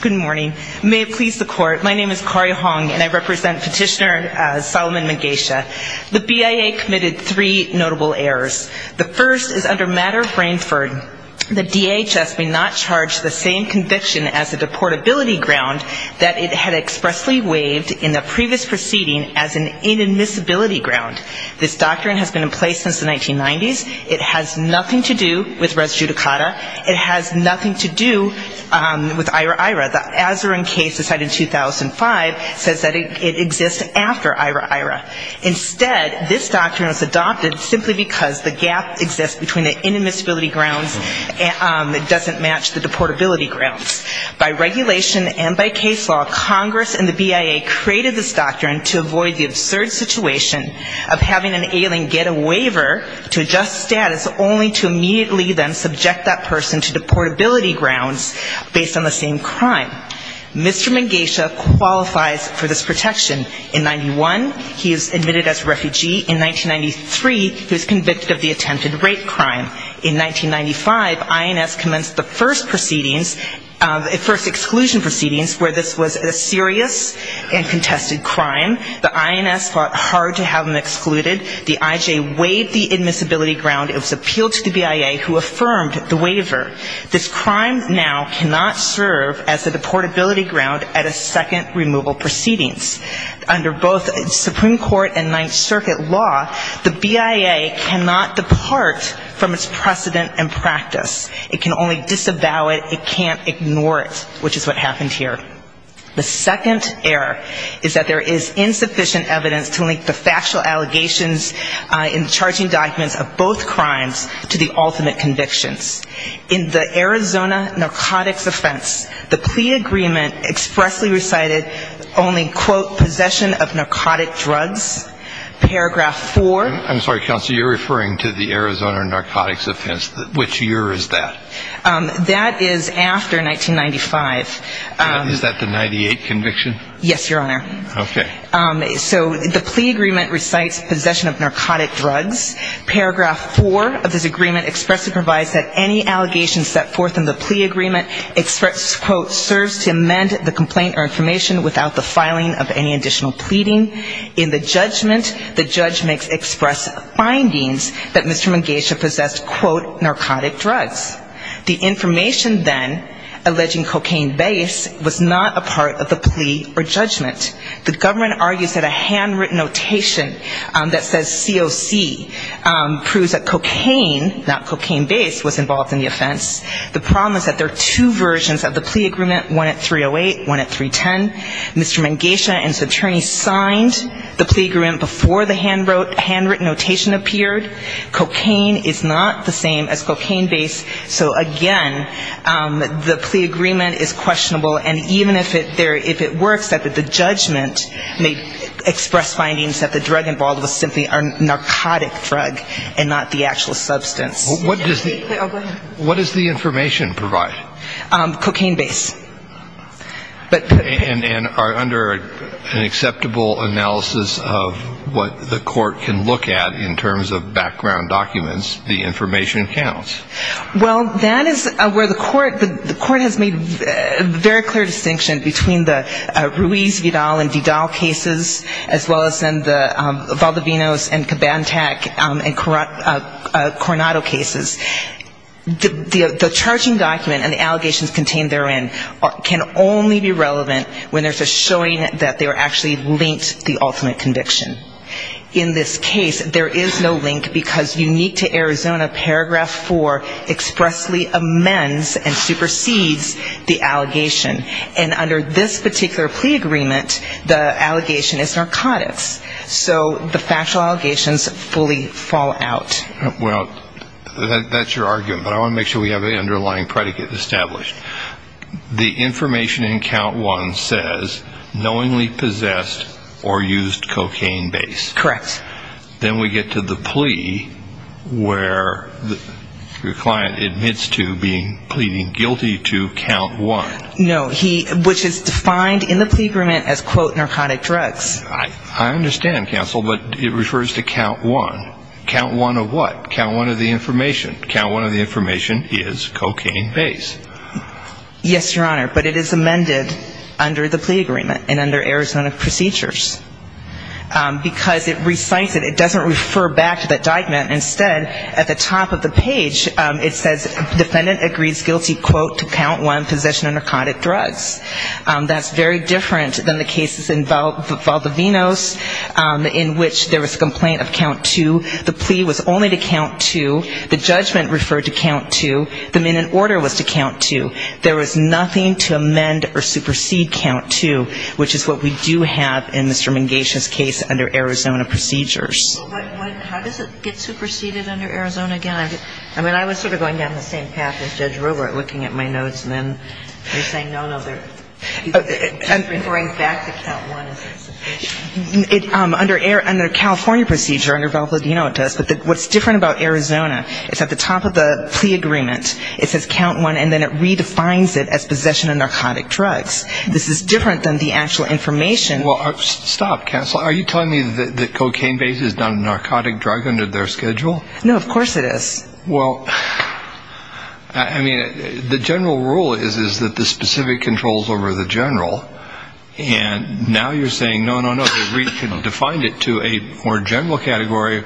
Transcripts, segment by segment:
Good morning. May it please the court, my name is Kari Hong and I represent petitioner Solomon Mengesha. The BIA committed three notable errors. The first is under matter of brainfurden. The DHS may not charge the same conviction as a deportability ground that it had expressly waived in the previous proceeding as an inadmissibility ground. This doctrine has been in place since the 1990s. It has nothing to do with res judicata. It has nothing to do with IRA-IRA. The Azzurin case decided in 2005 says that it exists after IRA-IRA. Instead, this doctrine was adopted simply because the gap exists between the inadmissibility grounds and it doesn't match the deportability grounds. By regulation and by case law, Congress and the BIA created this doctrine to avoid the absurd situation of having an alien get a waiver to adjust status only to immediately then subject that person to deportability grounds based on the same crime. Mr. Mengesha qualifies for this protection. In 1991, he is admitted as a refugee. In 1993, he was convicted of the attempted rape crime. In 1995, INS commenced the first proceedings, first exclusion proceedings where this was a serious and contested crime. The INS fought hard to have him excluded. The IJ waived the admissibility ground. It was appealed to the BIA who affirmed the waiver. This crime now cannot serve as a deportability ground at a second removal proceedings. Under both Supreme Court and Ninth Circuit law, the BIA cannot depart from its precedent and practice. It can only disavow it. It can't ignore it, which is what happened here. The second error is that there is insufficient evidence to link the factual allegations in the charging documents of both crimes to the ultimate convictions. In the Arizona narcotics offense, the plea agreement expressly recited only, quote, possession of narcotic drugs. Paragraph four. I'm sorry, Counselor, you're referring to the Arizona narcotics offense. Which year is that? That is after 1995. Is that the 98 conviction? Yes, Your Honor. Okay. So the plea agreement recites possession of narcotic drugs. Paragraph four of this agreement expressly provides that any allegations set forth in the plea agreement express, quote, serves to amend the complaint or information without the filing of any additional pleading. In the judgment, the judge makes express findings that Mr. Mangesha possessed, quote, the information then alleging cocaine base was not a part of the plea or judgment. The government argues that a handwritten notation that says COC proves that cocaine, not cocaine base, was involved in the offense. The problem is that there are two versions of the plea agreement, one at 308, one at 310. Mr. Mangesha and his attorney signed the plea agreement before the handwritten notation appeared. Cocaine is not the same as cocaine base, so again, the plea agreement is questionable. And even if it works, the judgment may express findings that the drug involved was simply a narcotic drug and not the actual substance. What does the information provide? Cocaine base. And are under an acceptable analysis of what the court can look at in terms of background documents, the information counts? Well, that is where the court has made very clear distinction between the Ruiz-Vidal and Vidal cases, as well as in the Valdivinos and Cabantac and Coronado cases. The charging document and the allegations contained therein can only be relevant when there's a showing that they were actually linked to the ultimate conviction. In this case, there is no link because unique to Arizona, paragraph four expressly amends and supersedes the allegation. And under this particular plea agreement, the allegation is narcotics. So the factual allegations fully fall out. Well, that's your argument, but I want to make sure we have an underlying predicate established. The information in count one says knowingly possessed or used cocaine base. Correct. Then we get to the plea where the client admits to being pleading guilty to count one. No. He, which is defined in the plea agreement as, quote, narcotic drugs. I understand, counsel, but it refers to count one. Count one of what? Count one of the information. Count one of the information is cocaine base. Yes, Your Honor, but it is amended under the plea agreement and under Arizona procedures because it recites it. It doesn't refer back to that document. Instead, at the top of the page, it says defendant agrees guilty, quote, to count one possession of narcotic drugs. That's very different than the cases in Valdivinos in which there was a complaint of count two. The plea was only to count two. The judgment referred to count two. The men in order was to count two. There was nothing to amend or supersede count two, which is what we do have in Mr. Mingatia's case under Arizona procedures. Well, how does it get superseded under Arizona again? I mean, I was sort of going down the same path as Judge Robert, looking at my notes and then saying no, no, they're referring back to count one as an exception. Under California procedure, under Valdivino it does, but what's different about Arizona is at the top of the plea agreement, it says count one, and then it redefines it as possession of narcotic drugs. This is different than the actual information. Well, stop, counsel. Are you telling me that Cocaine Base has done a narcotic drug under their schedule? No, of course it is. Well, I mean, the general rule is that the specific controls over the general, and now you're saying no, no, no, that we can define it to a more general category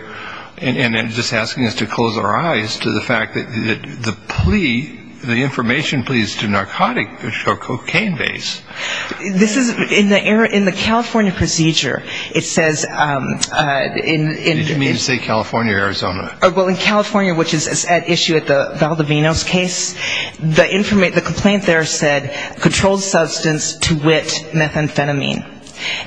and then just asking us to close our eyes to the fact that the plea, the information pleads to narcotic or Cocaine Base. This is, in the California procedure, it says in Did you mean to say California or Arizona? Well, in California, which is at issue at the Valdivino's case, the complaint there said controlled substance to wit methamphetamine,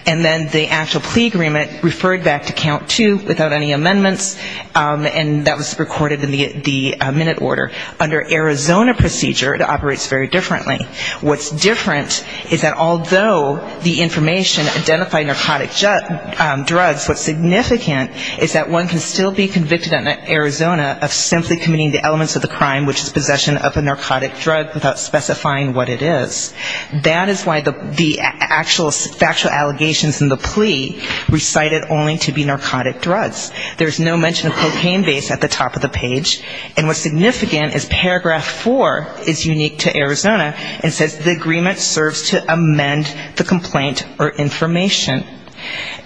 and then the actual plea agreement referred back to count two without any amendments, and that was recorded in the minute order. Under Arizona procedure, it operates very differently. What's different is that although the information identified narcotic drugs, what's significant is that one can still be convicted in Arizona of simply committing the elements of the crime, which is possession of a narcotic drug without specifying what it is. That is why the actual factual allegations in the plea recited only to be narcotic drugs. There's no mention of Cocaine Base at the top of the page, and what's significant is paragraph four is unique to Arizona. It says the agreement serves to amend the complaint or information.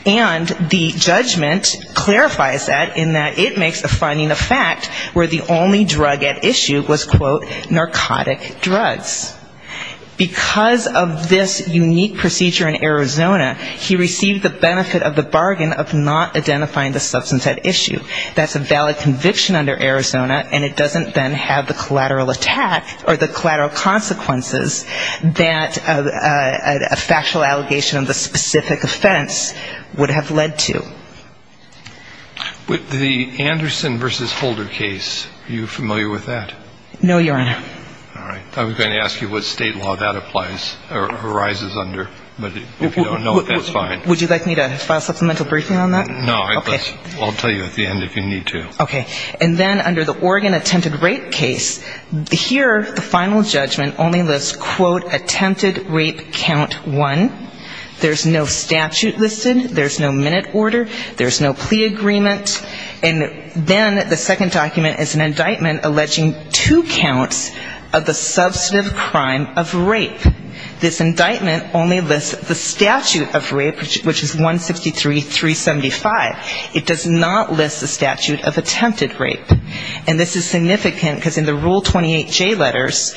And the judgment clarifies that in that it makes the finding a fact where the only drug at issue was, quote, narcotic drugs. Because of this unique procedure in Arizona, he received the benefit of the bargain of not identifying the substance at issue. That's a valid conviction under Arizona, and it doesn't then have the collateral attack or the collateral consequences that a factual allegation of a specific offense would have led to. With the Anderson v. Holder case, are you familiar with that? No, Your Honor. All right. I was going to ask you what state law that applies or arises under, but if you don't know it, that's fine. Would you like me to file a supplemental briefing on that? No. I'll tell you at the end if you need to. Okay. And then under the Oregon attempted rape case, here the final judgment only lists, quote, attempted rape count one. There's no statute listed. There's no minute order. There's no plea agreement. And then the second document is an indictment alleging two counts of the which is 163-375. It does not list the statute of attempted rape. And this is significant because in the Rule 28J letters,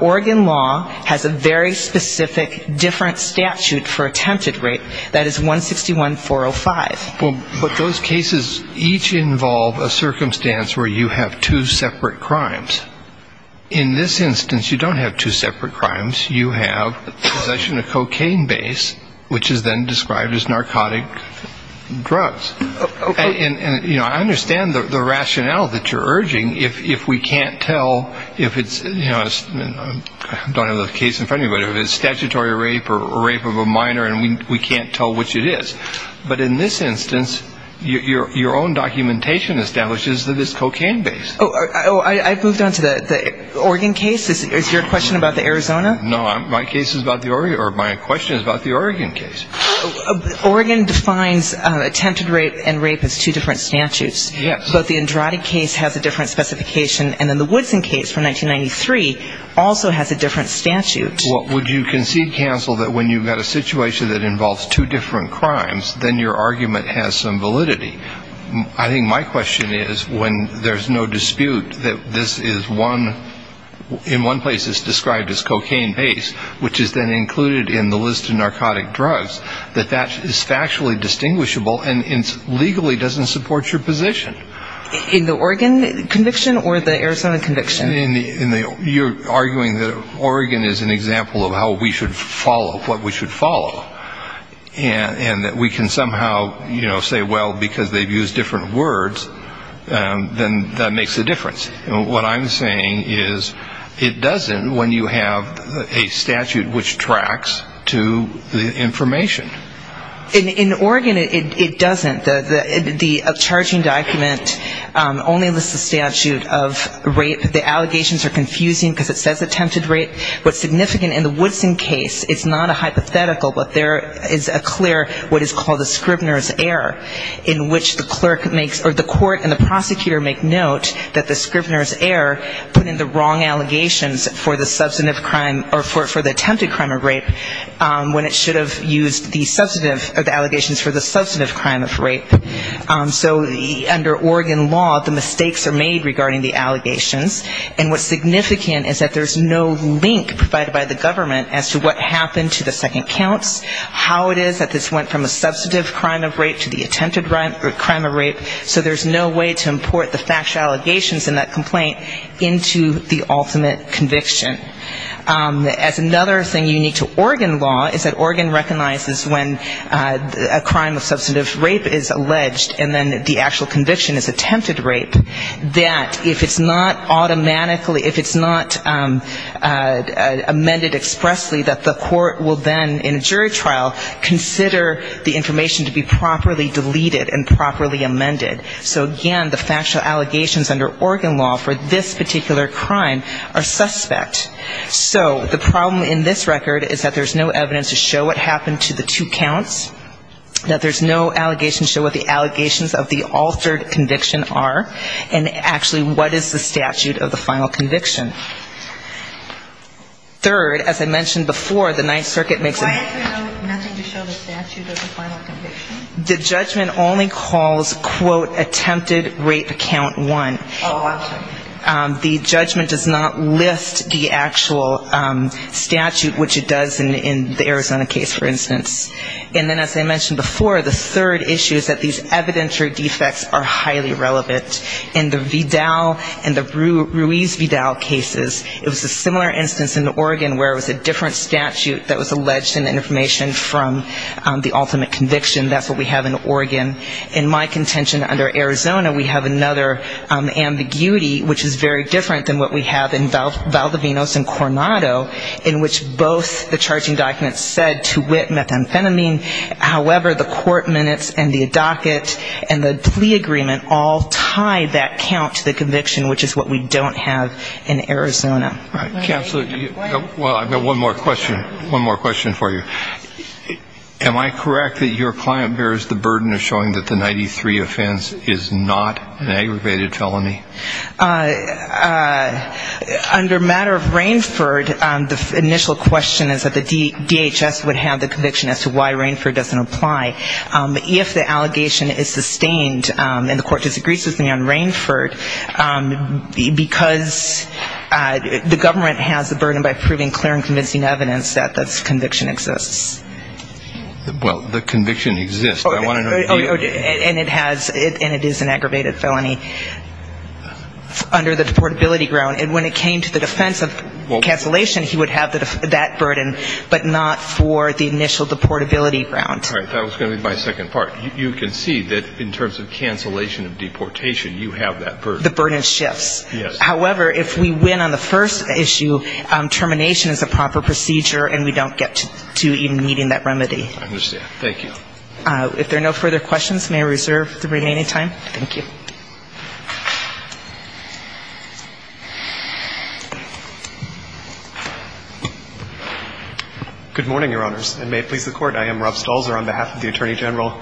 Oregon law has a very specific different statute for attempted rape. That is 161-405. Well, but those cases each involve a circumstance where you have two separate crimes. In this instance, you don't have two separate crimes. You have possession of cocaine base, which is then described as narcotic drugs. And, you know, I understand the rationale that you're urging if we can't tell if it's, you know, I don't have the case in front of me, but if it's statutory rape or rape of a minor and we can't tell which it is. But in this instance, your own documentation establishes that it's cocaine base. Oh, I moved on to the Oregon case. Is your question about the Arizona? No. My case is about the Oregon or my question is about the Oregon case. Oregon defines attempted rape and rape as two different statutes. Yes. But the Andrade case has a different specification. And then the Woodson case from 1993 also has a different statute. Well, would you concede, counsel, that when you've got a situation that involves two different crimes, then your argument has some validity? I think my question is when there's no dispute that this is one, in one place it's described as cocaine base, which is then included in the list of narcotic drugs, that that is factually distinguishable and legally doesn't support your position. In the Oregon conviction or the Arizona conviction? In the, you're arguing that Oregon is an example of how we should follow, what we should follow. And that we can somehow, you know, say, well, because they've used different words, then that makes a difference. What I'm saying is it doesn't when you have a statute which tracks to the information. In Oregon, it doesn't. The charging document only lists the statute of rape. The allegations are confusing because it says attempted rape. What's significant in the Woodson case, it's not a hypothetical, but there is a clear what is called a Scribner's error in which the court and the prosecutor make note that the Scribner's error put in the wrong allegations for the substantive crime or for the attempted crime of rape when it should have used the substantive or the allegations for the substantive crime of rape. So under Oregon law, the mistakes are made regarding the allegations. And what's significant is that there's no link provided by the government as to what happened to the second counts, how it is that this went from a substantive crime of rape to the attempted crime of rape. So there's no way to import the factual allegations in that complaint into the ultimate conviction. As another thing unique to Oregon law is that Oregon recognizes when a crime of substantive rape is alleged and then the actual conviction is attempted rape, that if it's not automatically ‑‑ if it's not amended expressly, that the court will then in a jury trial consider the information to be properly deleted and properly amended. So again, the factual allegations under Oregon law for this particular crime are suspect. So the problem in this record is that there's no evidence to show what happened to the two counts, that there's no allegation to show what the allegations of the altered conviction are, and actually what is the statute of the final conviction. Third, as I mentioned before, the Ninth Circuit makes a ‑‑ Why is there nothing to show the statute of the final conviction? The judgment only calls, quote, attempted rape count one. Oh, I'm sorry. The judgment does not list the actual statute, which it does in the Arizona case, for instance. And then as I mentioned before, the third issue is that these evidentiary defects are cases. It was a similar instance in Oregon where it was a different statute that was alleged in the information from the ultimate conviction. That's what we have in Oregon. In my contention under Arizona, we have another ambiguity, which is very different than what we have in Valdovinos and Coronado, in which both the charging documents said to wit methamphetamine. However, the court minutes and the docket and the plea agreement all tie that count to the conviction, which is what we don't have in Arizona. All right. Counselor, well, I've got one more question. One more question for you. Am I correct that your client bears the burden of showing that the 93 offense is not an aggravated felony? Under matter of Rainford, the initial question is that the DHS would have the conviction as to why Rainford doesn't apply. If the allegation is sustained and the court disagrees with me on Rainford, because the government has the burden by proving clear and convincing evidence that this conviction exists. Well, the conviction exists. I want to know if you do. And it is an aggravated felony under the deportability ground. And when it came to the defense of cancellation, he would have that burden, but not for the initial deportability ground. All right. That was going to be my second part. You concede that in terms of cancellation of deportation, you have that burden. The burden shifts. Yes. However, if we win on the first issue, termination is a proper procedure, and we don't get to even meeting that remedy. I understand. Thank you. If there are no further questions, may I reserve the remaining time? Thank you. Good morning, Your Honors. And may it please the Court, I am Rob Stolzer on behalf of the Attorney General.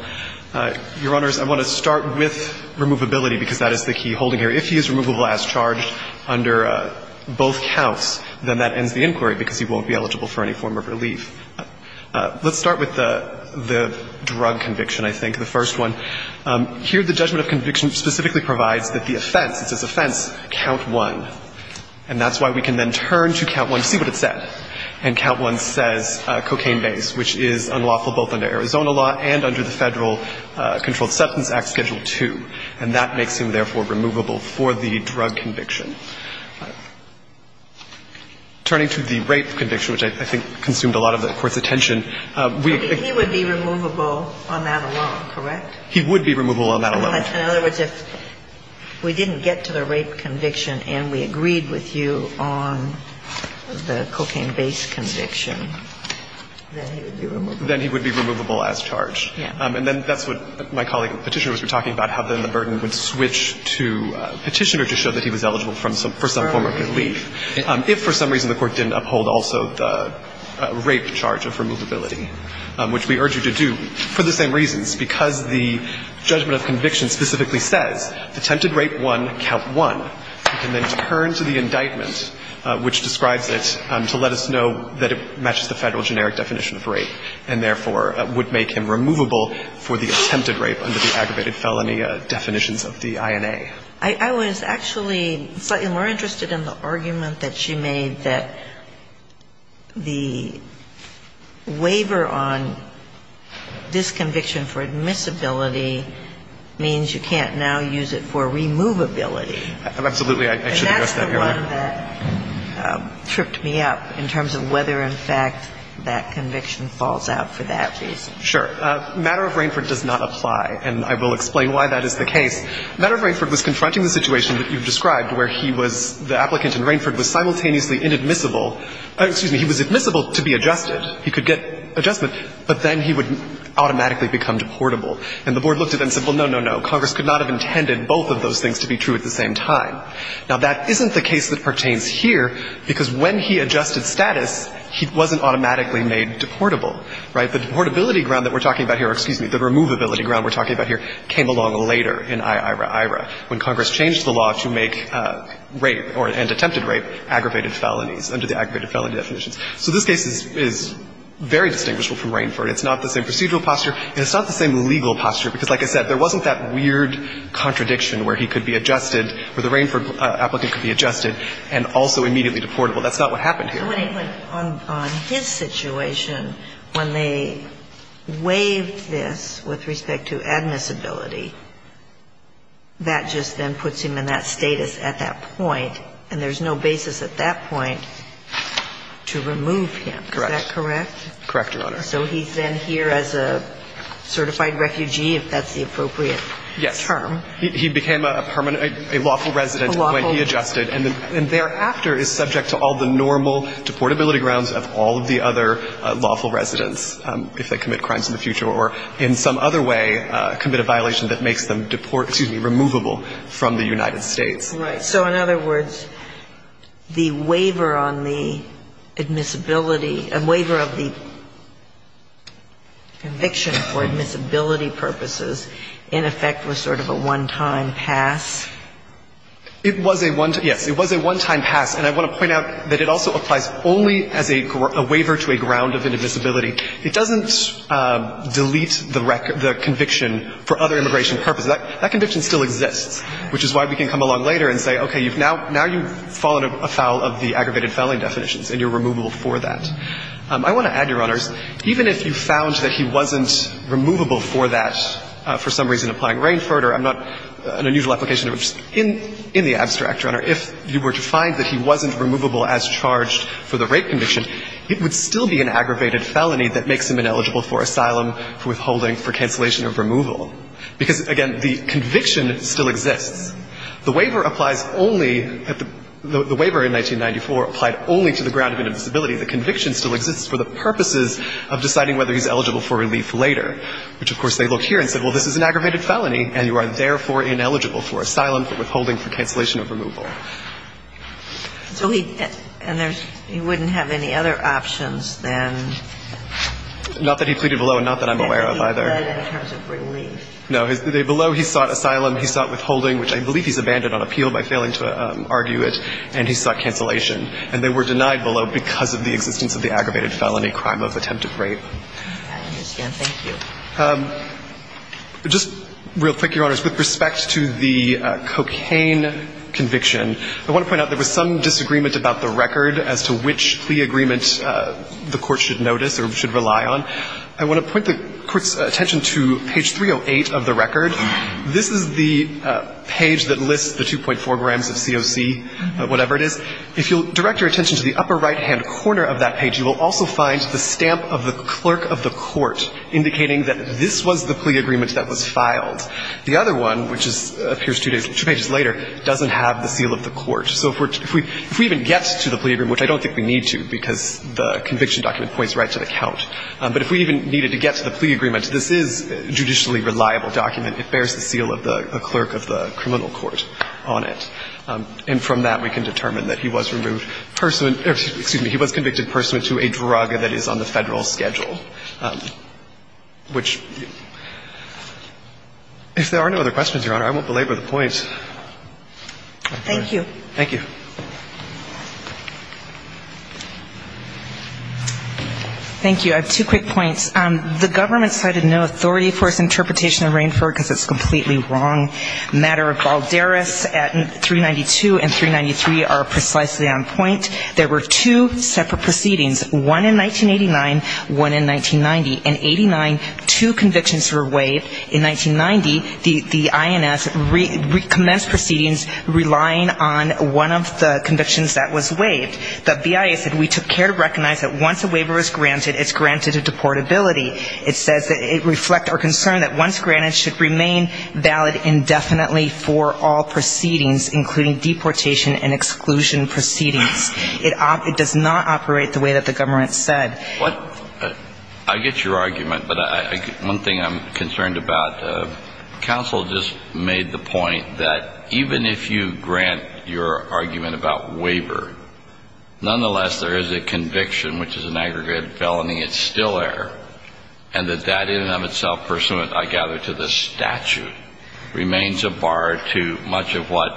Your Honors, I want to start with removability, because that is the key holding here. If he is removable as charged under both counts, then that ends the inquiry, because he won't be eligible for any form of relief. Let's start with the drug conviction, I think, the first one. Here, the judgment of conviction specifically provides that the offense, it says offense, count one. And that's why we can then turn to count one to see what it said. And count one says cocaine base, which is unlawful both under Arizona law and under the Federal Controlled Substance Act, Schedule II. And that makes him, therefore, removable for the drug conviction. Turning to the rape conviction, which I think consumed a lot of the Court's attention, we think he would be removable on that alone, correct? He would be removable on that alone. In other words, if we didn't get to the rape conviction and we agreed with you on the cocaine base conviction, then he would be removable? Then he would be removable as charged. Yes. And then that's what my colleague, Petitioner, was talking about, how then the burden would switch to Petitioner to show that he was eligible for some form of relief. If for some reason the Court didn't uphold also the rape charge of removability, which we urge you to do, for the same reasons, because the judgment of conviction specifically says attempted rape one, count one, we can then turn to the indictment which describes it to let us know that it matches the Federal generic definition of rape and, therefore, would make him removable for the attempted rape under the aggravated felony definitions of the INA. I was actually slightly more interested in the argument that she made, that the waiver on this conviction for admissibility means you can't now use it for removability. Absolutely. I should address that, Your Honor. And that's the one that tripped me up in terms of whether, in fact, that conviction falls out for that reason. Sure. Matter of Rainford does not apply, and I will explain why that is the case. Matter of Rainford was confronting the situation that you've described where he was simultaneously inadmissible. Excuse me, he was admissible to be adjusted. He could get adjustment, but then he would automatically become deportable. And the Board looked at it and said, well, no, no, no, Congress could not have intended both of those things to be true at the same time. Now, that isn't the case that pertains here, because when he adjusted status, he wasn't automatically made deportable, right? The deportability ground that we're talking about here or, excuse me, the removability ground we're talking about here came along later in I.I.R.A. when Congress changed the law to make rape or, and attempted rape, aggravated felonies under the aggravated felony definitions. So this case is very distinguishable from Rainford. It's not the same procedural posture, and it's not the same legal posture, because like I said, there wasn't that weird contradiction where he could be adjusted or the Rainford applicant could be adjusted and also immediately deportable. That's not what happened here. Kagan. I'm sorry. On his situation, when they waived this with respect to admissibility, that just then puts him in that status at that point, and there's no basis at that point to remove him. Correct. Is that correct? Correct, Your Honor. So he's then here as a certified refugee, if that's the appropriate term. Yes. He became a lawful resident when he adjusted. And thereafter is subject to all the normal deportability grounds of all of the other lawful residents if they commit crimes in the future or in some other way commit a violation that makes them deportable, excuse me, removable from the United States. Right. So in other words, the waiver on the admissibility, waiver of the conviction for admissibility purposes in effect was sort of a one-time pass? It was a one-time, yes. It was a one-time pass. And I want to point out that it also applies only as a waiver to a ground of an admissibility. It doesn't delete the conviction for other immigration purposes. That conviction still exists, which is why we can come along later and say, okay, now you've fallen afoul of the aggravated fouling definitions and you're removable for that. I want to add, Your Honors, even if you found that he wasn't removable for that, for some reason applying Rainford or I'm not an unusual application, in the abstract, Your Honor, if you were to find that he wasn't removable as charged for the rape conviction, it would still be an aggravated felony that makes him ineligible for asylum, for withholding, for cancellation of removal. Because, again, the conviction still exists. The waiver applies only at the – the waiver in 1994 applied only to the ground of an admissibility. The conviction still exists for the purposes of deciding whether he's eligible for relief later, which, of course, they look here and say, well, this is an aggravated felony and you are therefore ineligible for asylum, for withholding, for cancellation of removal. So he – and there's – he wouldn't have any other options than – Not that he pleaded below and not that I'm aware of either. In terms of relief. No. Below, he sought asylum, he sought withholding, which I believe he's abandoned on appeal by failing to argue it, and he sought cancellation. And they were denied below because of the existence of the aggravated felony crime of attempted rape. I understand. Thank you. Just real quick, Your Honors. With respect to the cocaine conviction, I want to point out there was some disagreement about the record as to which plea agreement the Court should notice or should rely on. I want to point the Court's attention to page 308 of the record. This is the page that lists the 2.4 grams of COC, whatever it is. If you'll direct your attention to the upper right-hand corner of that page, you will also find the stamp of the clerk of the court indicating that this was the plea agreement that was filed. The other one, which appears two pages later, doesn't have the seal of the court. So if we even get to the plea agreement, which I don't think we need to because the conviction document points right to the count. But if we even needed to get to the plea agreement, this is a judicially reliable document. It bears the seal of the clerk of the criminal court on it. And from that, we can determine that he was removed – excuse me, he was convicted pursuant to a drug that is on the Federal schedule, which – if there are no other questions, Your Honor, I won't belabor the point. Thank you. Thank you. Thank you. I have two quick points. The government cited no authority for its interpretation of Rainford because it's completely wrong. Matter of Balderas at 392 and 393 are precisely on point. There were two separate proceedings, one in 1989, one in 1990. In 89, two convictions were waived. In 1990, the INS recommenced proceedings relying on one of the convictions that was waived. The BIA said, we took care to recognize that once a waiver was granted, it's granted to deportability. It says that it reflects our concern that once granted, it should remain valid indefinitely for all proceedings, including deportation and exclusion proceedings. It does not operate the way that the government said. What – I get your argument, but one thing I'm concerned about, counsel just made the point that even if you grant your argument about waiver, nonetheless there is a conviction, which is an aggregated felony, it's still there, and that that in and of itself pursuant, I gather, to the statute remains a bar to much of what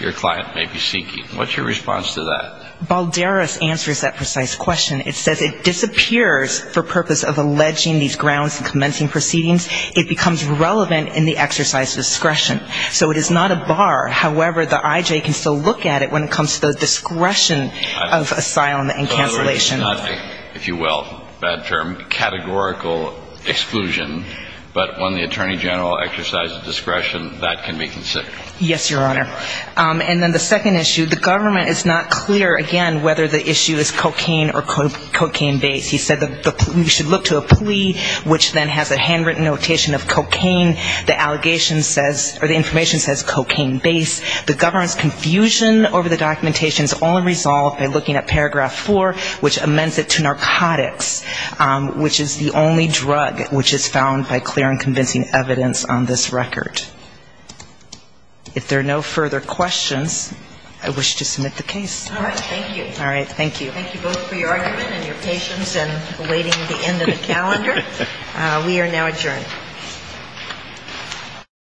your client may be seeking. What's your response to that? Balderas answers that precise question. It says it disappears for purpose of alleging these grounds and commencing proceedings. It becomes relevant in the exercise of discretion. So it is not a bar. However, the IJ can still look at it when it comes to the discretion of asylum and cancellation. In other words, it's not, if you will, bad term, categorical exclusion, but when the attorney general exercises discretion, that can be considered. Yes, Your Honor. And then the second issue, the government is not clear, again, whether the issue is cocaine or cocaine-based. He said that we should look to a plea, which then has a handwritten notation of cocaine. The allegation says, or the information says cocaine-based. The government's confusion over the documentation is only resolved by looking at paragraph four, which amends it to narcotics, which is the only drug which is found by clear and convincing evidence on this record. If there are no further questions, I wish to submit the case. All right. Thank you. All right. Thank you. Thank you both for your argument and your patience in awaiting the end of the calendar. We are now adjourned.????